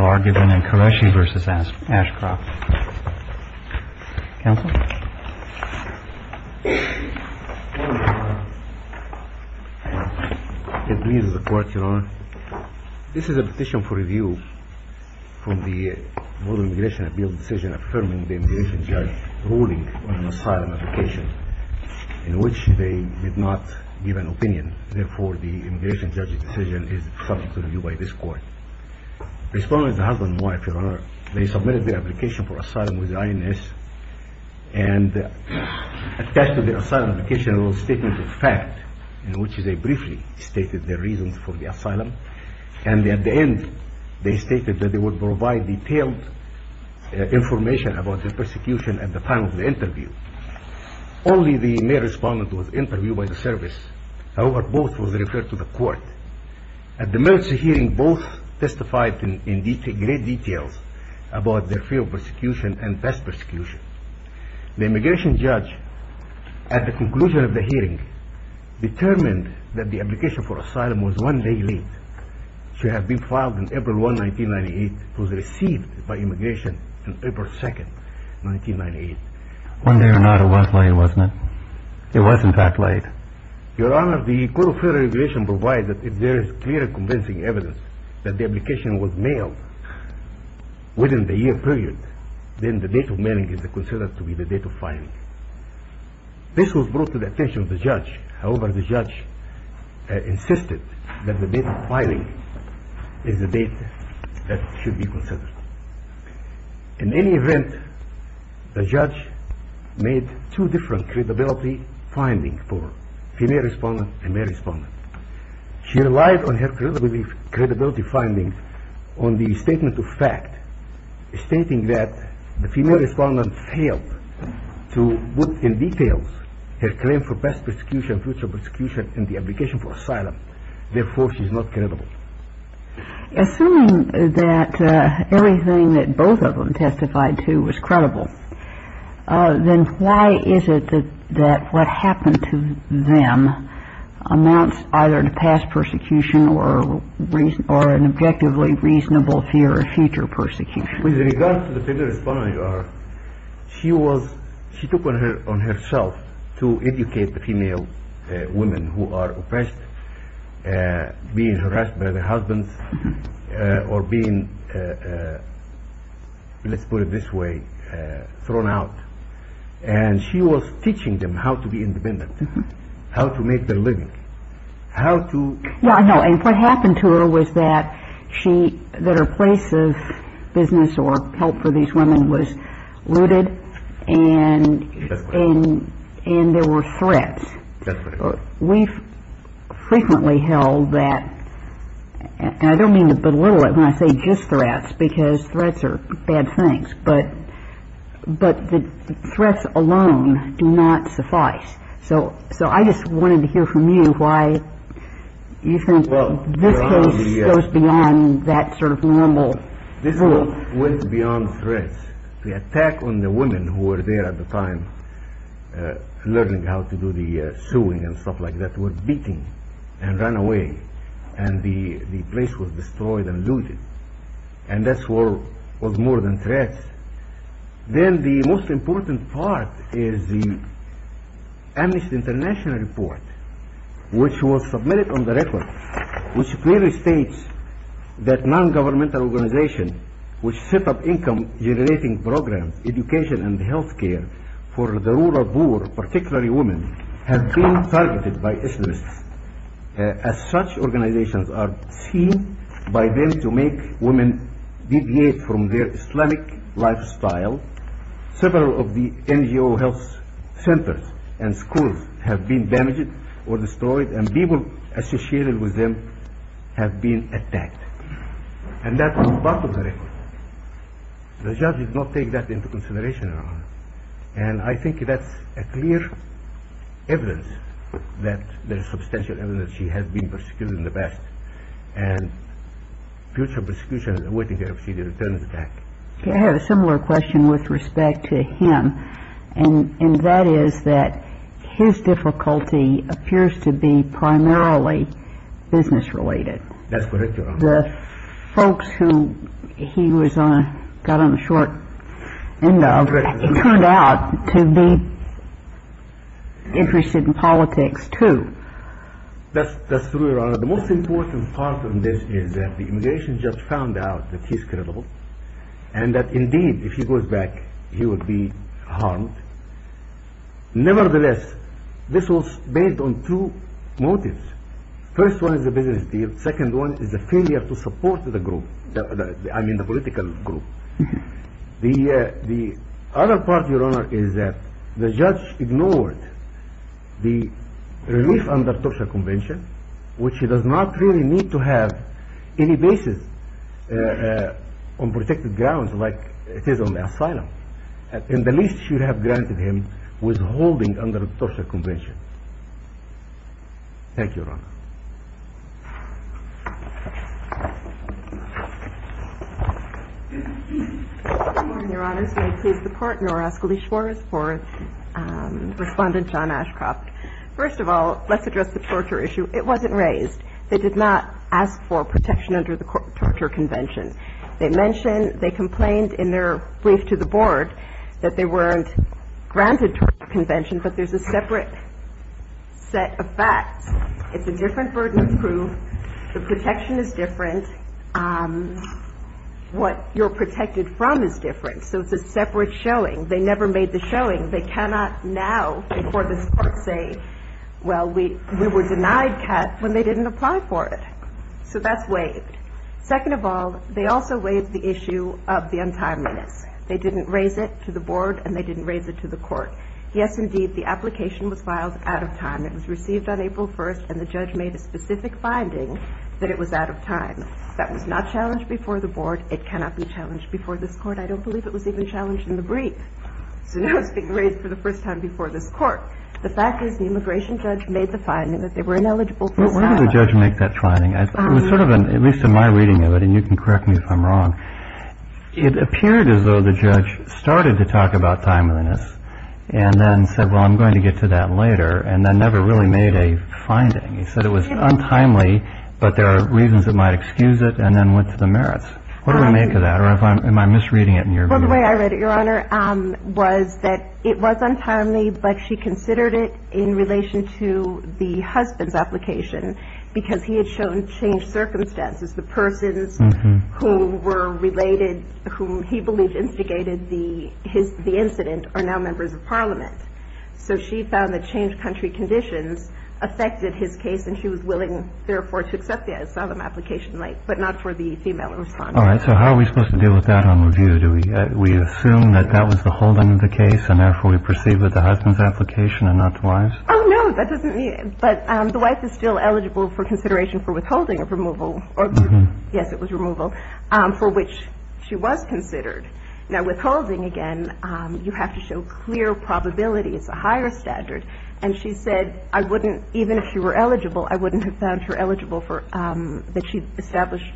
It pleases the Court, Your Honor. This is a petition for review from the Northern Immigration Appeals Decision Affirming the Immigration Judge ruling on an asylum application in which they did not give an opinion. Therefore, the Immigration Judge's decision is subject to review by this Court. Respondents, the husband and wife, Your Honor, they submitted the application for asylum with the INS and attached to the asylum application a statement of fact in which they briefly stated their reasons for the asylum. And at the end, they stated that they would provide detailed information about the persecution at the time of the interview. Only the male respondent was interviewed by the service. However, both were referred to the Court. At the emergency hearing, both testified in great detail about their fear of persecution and past persecution. The Immigration Judge, at the conclusion of the hearing, determined that the application for asylum was one day late. She had been filed on April 1, 1998. She was received by Immigration on April 2, 1998. One day or not, it was late, wasn't it? It was in fact late. Your Honor, the Code of Federal Regulations provides that if there is clear and convincing evidence that the application was mailed within the year period, then the date of mailing is considered to be the date of filing. This was brought to the attention of the judge. However, the judge insisted that the date of filing is the date that should be considered. In any event, the judge made two different credibility findings for female respondent and male respondent. She relied on her credibility findings on the statement of fact, stating that the female respondent failed to put in details her claim for past persecution, future persecution, and the application for asylum. Therefore, she's not credible. Assuming that everything that both of them testified to was credible, then why is it that what happened to them amounts either to past persecution or an objectively reasonable fear of future persecution? With regard to the female respondent, Your Honor, she took it upon herself to educate the female women who are oppressed, being harassed by their husbands, or being, let's put it this way, thrown out. And she was teaching them how to be independent, how to make their living, how to... And what happened to her was that she, that her place of business or help for these women was looted, and there were threats. We've frequently held that, and I don't mean to belittle it when I say just threats, because threats are bad things, but the threats alone do not suffice. So I just wanted to hear from you why you think this goes beyond that sort of normal... This went beyond threats. The attack on the women who were there at the time, learning how to do the sewing and stuff like that, were beaten and run away, and the place was destroyed and looted. And that's what was more than threats. Then the most important part is the Amnesty International report, which was submitted on the record, which clearly states that non-governmental organizations which set up income-generating programs, education and health care for the rural poor, particularly women, have been targeted by Islamists, as such organizations are seen by them to make women deviate from their Islamic lifestyle. Several of the NGO health centers and schools have been damaged or destroyed, and people associated with them have been attacked. And that's the bottom of the record. The judge did not take that into consideration, Your Honor. And I think that's clear evidence that there's substantial evidence she has been persecuted in the past, and future persecution is awaiting her if she returns back. I have a similar question with respect to him, and that is that his difficulty appears to be primarily business-related. That's correct, Your Honor. The folks who he got on the short end of turned out to be interested in politics, too. That's true, Your Honor. The most important part is that the immigration judge found out that he's credible, and that indeed, if he goes back, he will be harmed. Nevertheless, this was based on two motives. The first one is a business deal. The second one is a failure to support the group, I mean the political group. The other part, Your Honor, is that the judge ignored the relief under the Turkish Convention, which he does not really need to have any basis on protected grounds like it is on the asylum, and at least should have granted him withholding under the Turkish Convention. Thank you, Your Honor. Good morning, Your Honors. May I please the Court, Your Honor, ask Alicia Morris for Respondent John Ashcroft. First of all, let's address the torture issue. It wasn't raised. They did not ask for protection under the torture convention. They mentioned, they complained in their brief to the Board that they weren't granted torture convention, but there's a separate set of facts. It's a different burden of proof. The protection is different. What you're protected from is different, so it's a separate showing. They never made the showing. They cannot now, before this Court, say, well, we were denied CAT when they didn't apply for it. So that's waived. Second of all, they also waived the issue of the untimeliness. They didn't raise it to the Board, and they didn't raise it to the Court. Yes, indeed, the application was filed out of time. It was received on April 1st, and the judge made a specific finding that it was out of time. That was not challenged before the Board. It cannot be challenged before this Court. I don't believe it was even challenged in the brief. So now it's being raised for the first time before this Court. The fact is the immigration judge made the finding that they were ineligible for asylum. But why did the judge make that finding? It was sort of an, at least in my reading of it, and you can correct me if I'm wrong, it appeared as though the judge started to talk about timeliness and then said, well, I'm going to get to that later, and then never really made a finding. He said it was untimely, but there are reasons that might excuse it, and then went to merits. What do I make of that, or am I misreading it? Well, the way I read it, Your Honor, was that it was untimely, but she considered it in relation to the husband's application, because he had shown changed circumstances. The persons who were related, whom he believed instigated the incident, are now members of Parliament. So she found that changed country conditions affected his case, and she was willing, therefore, to accept the asylum application late, but not for the female respondent. All right. So how are we supposed to deal with that on review? Do we assume that that was the whole end of the case, and therefore we proceed with the husband's application and not the wife's? Oh, no, that doesn't mean it. But the wife is still eligible for consideration for withholding of removal, or yes, it was removal, for which she was considered. Now, withholding, again, you have to show clear probability. It's a higher standard. And she said I wouldn't, even if she were eligible, I wouldn't have found her eligible for, that she established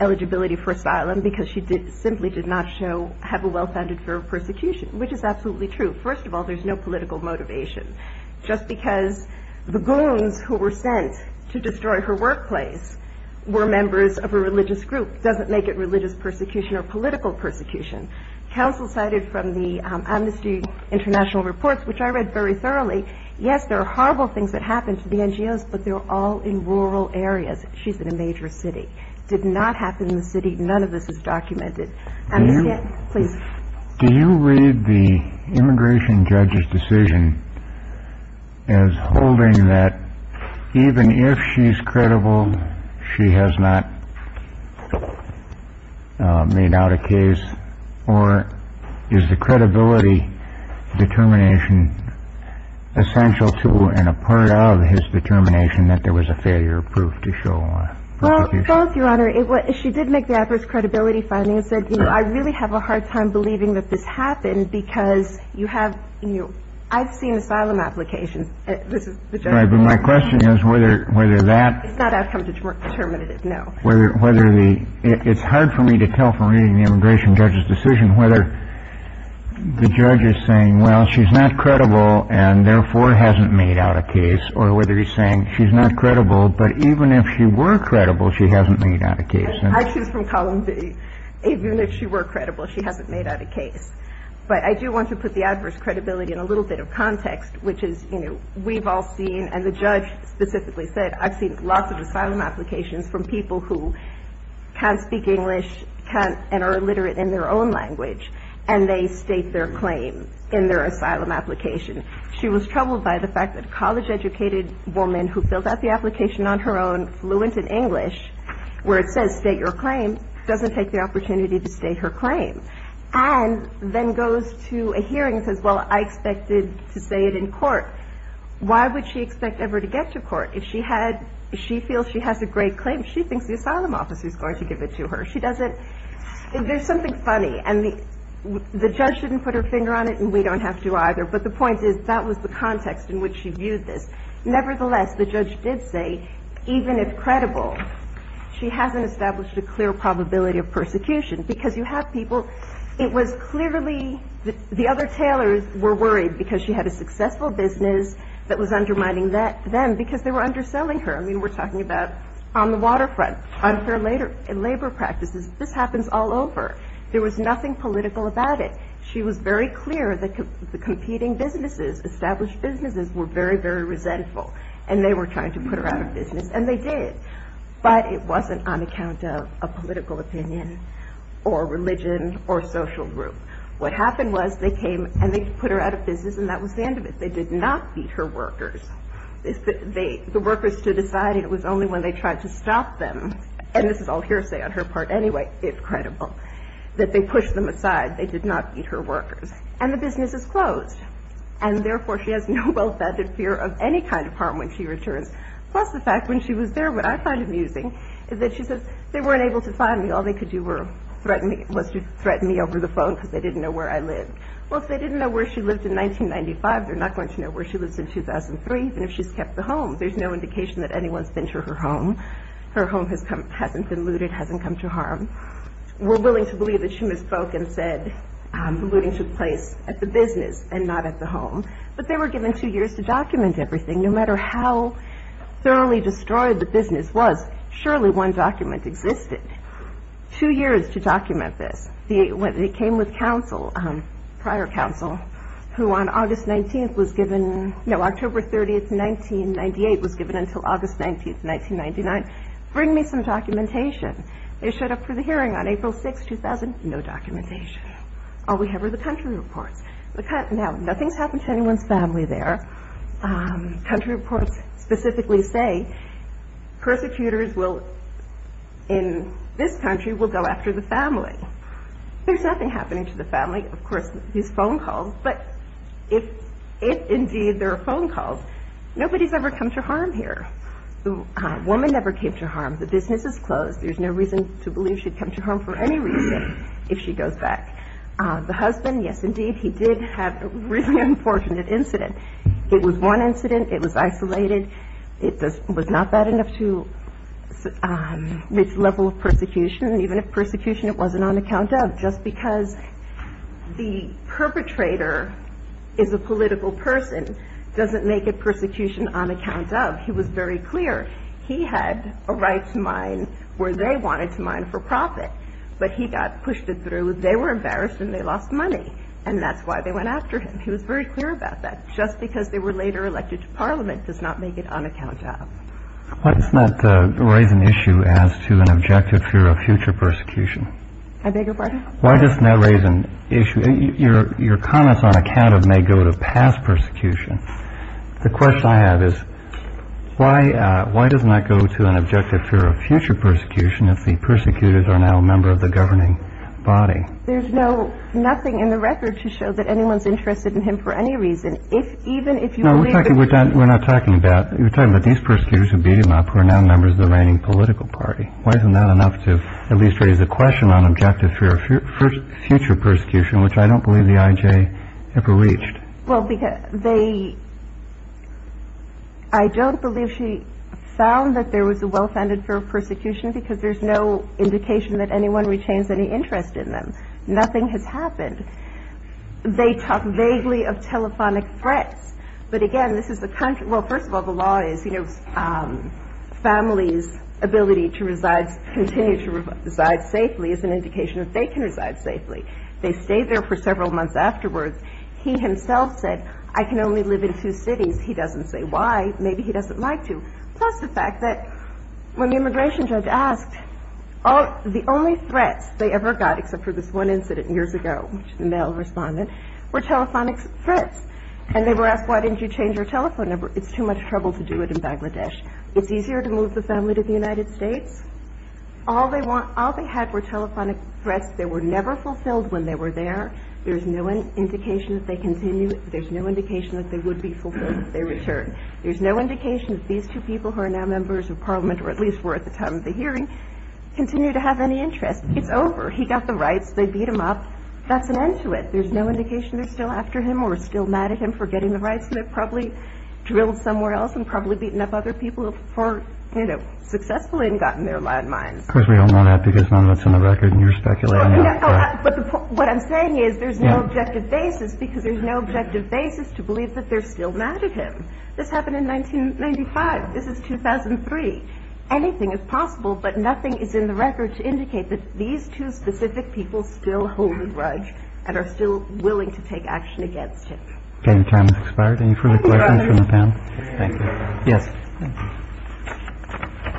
eligibility for asylum, because she did, simply did not show, have a well-founded fear of persecution, which is absolutely true. First of all, there's no political motivation. Just because the goons who were sent to destroy her workplace were members of a religious group doesn't make it religious persecution or political persecution. Counsel cited from the Amnesty International reports, which I read very thoroughly, yes, there are horrible things that happened to the NGOs, but they were all in rural areas. She's in a major city. Did not happen in the city. None of this is documented. Do you read the immigration judge's decision as holding that even if she's in a situation where she's not eligible, and she's not eligible, and she's not eligible, is that a determination essential to and a part of his determination that there was a failure of proof to show on persecution? Well, both, Your Honor. She did make the adverse credibility finding and said, you know, I really have a hard time believing that this happened because you have, you know, I've seen asylum applications. This is my question is whether whether that it's not outcome determinative. No, whether whether the it's hard for me to tell from reading the immigration judge's decision whether the judge is saying, well, she's not credible and therefore hasn't made out a case or whether he's saying she's not credible. But even if she were credible, she hasn't made out a case from column B. Even if she were credible, she hasn't made out a case. But I do want to put the adverse credibility in a little bit of context, which is, you know, we've all seen and the judge specifically said I've seen lots of asylum applications from people who can't speak English, can't and are illiterate in their own language, and they state their claim in their asylum application. She was troubled by the fact that a college educated woman who filled out the application on her own, fluent in English, where it says state your claim, doesn't take the opportunity to state her claim, and then goes to a hearing and says, well, I expected to say it in court. Why would she expect ever to get to court if she had she feels she has a great claim? She thinks the asylum officer is going to give it to her. She doesn't. There's something funny. And the judge didn't put her finger on it, and we don't have to either. But the point is, that was the context in which she hasn't established a clear probability of persecution. Because you have people, it was clearly the other tailors were worried because she had a successful business that was undermining them because they were underselling her. I mean, we're talking about on the waterfront, unfair labor practices. This happens all over. There was nothing political about it. She was very clear that the competing businesses, established businesses, were very, very resentful, and they were trying to put her out of business. And they did. But it wasn't on account of a political opinion or religion or social group. What happened was, they came and they put her out of business, and that was the end of it. They did not beat her workers. The workers stood aside, and it was only when they tried to stop them, and this is all hearsay on her part anyway, if credible, that they pushed them aside. They did not beat her workers. And the business is closed. And therefore, she has no well-founded fear of any kind of harm when she returns. Plus the fact, when she was there, what I find amusing is that she says, they weren't able to find me. All they could do was to threaten me over the phone because they didn't know where I lived. Well, if they didn't know where she lived in 1995, they're not going to know where she lives in 2003, even if she's kept the home. There's no indication that anyone's been to her home. Her home hasn't been looted, hasn't come to harm. We're willing to believe that she misspoke and said looting took place at the business and not at the home. But they were given two years to document everything. No matter how thoroughly destroyed the business was, surely one document existed. Two years to document this. They came with counsel, prior counsel, who on August 19th was given, no, October 30th, 1998 was given until August 19th, 1999, bring me some documentation. They showed up for the hearing on April 6th, 2000, no documentation. All we have are the country reports. Now, nothing's happened to anyone's family there. Country reports specifically say persecutors will, in this country, will go after the family. There's nothing happening to the family. Of course, these phone calls, but if indeed they're phone calls, nobody's ever come to harm here. The woman never came to harm. The business is closed. There's no reason to believe she'd come to harm for any reason if she goes back. The husband, yes, indeed, he did have a really unfortunate incident. It was one incident. It was isolated. It was not bad enough to reach level of persecution. Even if persecution, it wasn't on account of. Just because the perpetrator is a political person doesn't make it persecution on account of. He was very clear. He had a right to mine where they wanted to mine for profit, but he got pushed it through. They were embarrassed and they lost money, and that's why they went after him. He was very clear about that. Just because they were later elected to Parliament does not make it on account of. Why doesn't that raise an issue as to an objective fear of future persecution? I beg your pardon? Why doesn't that raise an issue? Your comments on account of may go to past persecution. The question I have is, why does not go to an objective fear of future persecution if the persecutors are now a member of the governing body? There's no, nothing in the record to show that anyone's interested in him for any reason. If even if you believe. We're not talking about, we're talking about these persecutors who beat him up, who are now members of the reigning political party. Why isn't that enough to at least raise a question on objective fear of future persecution, which I don't believe the IJ ever reached? Well, because they, I don't believe she found that there was a well-founded fear of persecution because there's no indication that anyone retains any interest in them. Nothing has happened. They talk vaguely of telephonic threats, but again, this is the country. Well, first of all, the law is, you know, family's ability to reside, continue to reside safely is an indication that they can reside safely. They stay there for several months afterwards. He himself said, I can only live in two cities. He doesn't say why, maybe he doesn't like to. Plus the fact that when the immigration judge asked, the only threats they ever got, except for this one incident years ago, which the mail responded were telephonic threats. And they were asked, why didn't you change your telephone number? It's too much trouble to do it in Bangladesh. It's easier to move the family to the United States. All they want, all they had were telephonic threats. They were never fulfilled when they were there. There's no indication that they continue. There's no indication that they would be fulfilled if they return. There's no indication that these two people who are now members of parliament, or at least were at the time of the hearing, continue to have any interest. It's over. He got the rights. They beat him up. That's an end to it. There's no indication they're still after him or still mad at him for getting the rights. They probably drilled somewhere else and probably beaten up other people for, you know, successfully and gotten their landmines. Of course we don't want to add because none of that's on the record and you're speculating. What I'm saying is there's no objective basis because there's no objective basis to believe that they're still mad at him. This happened in 1995. This is 2003. Anything is possible, but nothing is in the record to indicate that these two specific people still hold a grudge and are still willing to take action against him. Any further questions from the panel? Yes. What I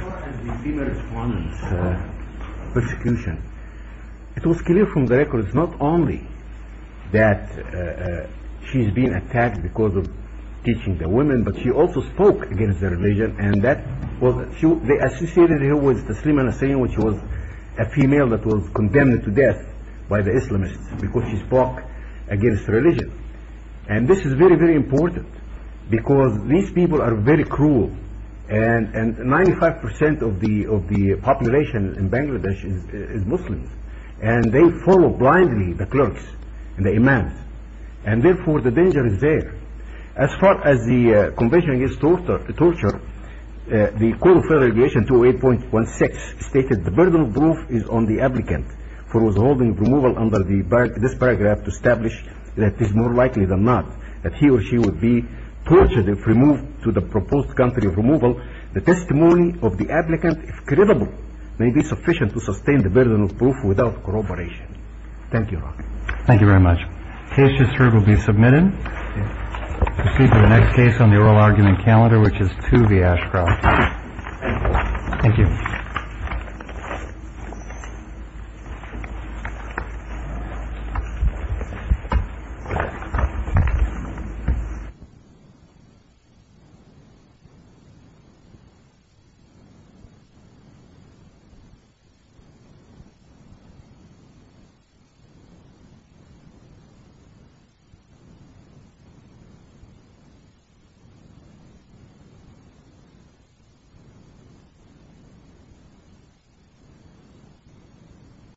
saw in the female respondents' persecution, it was clear from the records not only that she's being attacked because of teaching the women, but she also spoke against the religion and they associated her with Tasliman Hussain, which was a female that was condemned to death by the Islamists because she spoke against religion. And this is very, very important because these people are very cruel and 95% of the population in Bangladesh is Muslim and they follow blindly the clerks and the imams and therefore the danger is there. As far as the conviction against torture, the Code of Federal Regulations 208.16 stated, the burden of proof is on the applicant for withholding removal under this paragraph to be tortured if removed to the proposed country of removal. The testimony of the applicant, if credible, may be sufficient to sustain the burden of proof without corroboration. Thank you, Rocky. Thank you very much. Case to serve will be submitted. Proceed to the next case on the oral argument calendar, which is 2 v. Ashcroft. Thank you.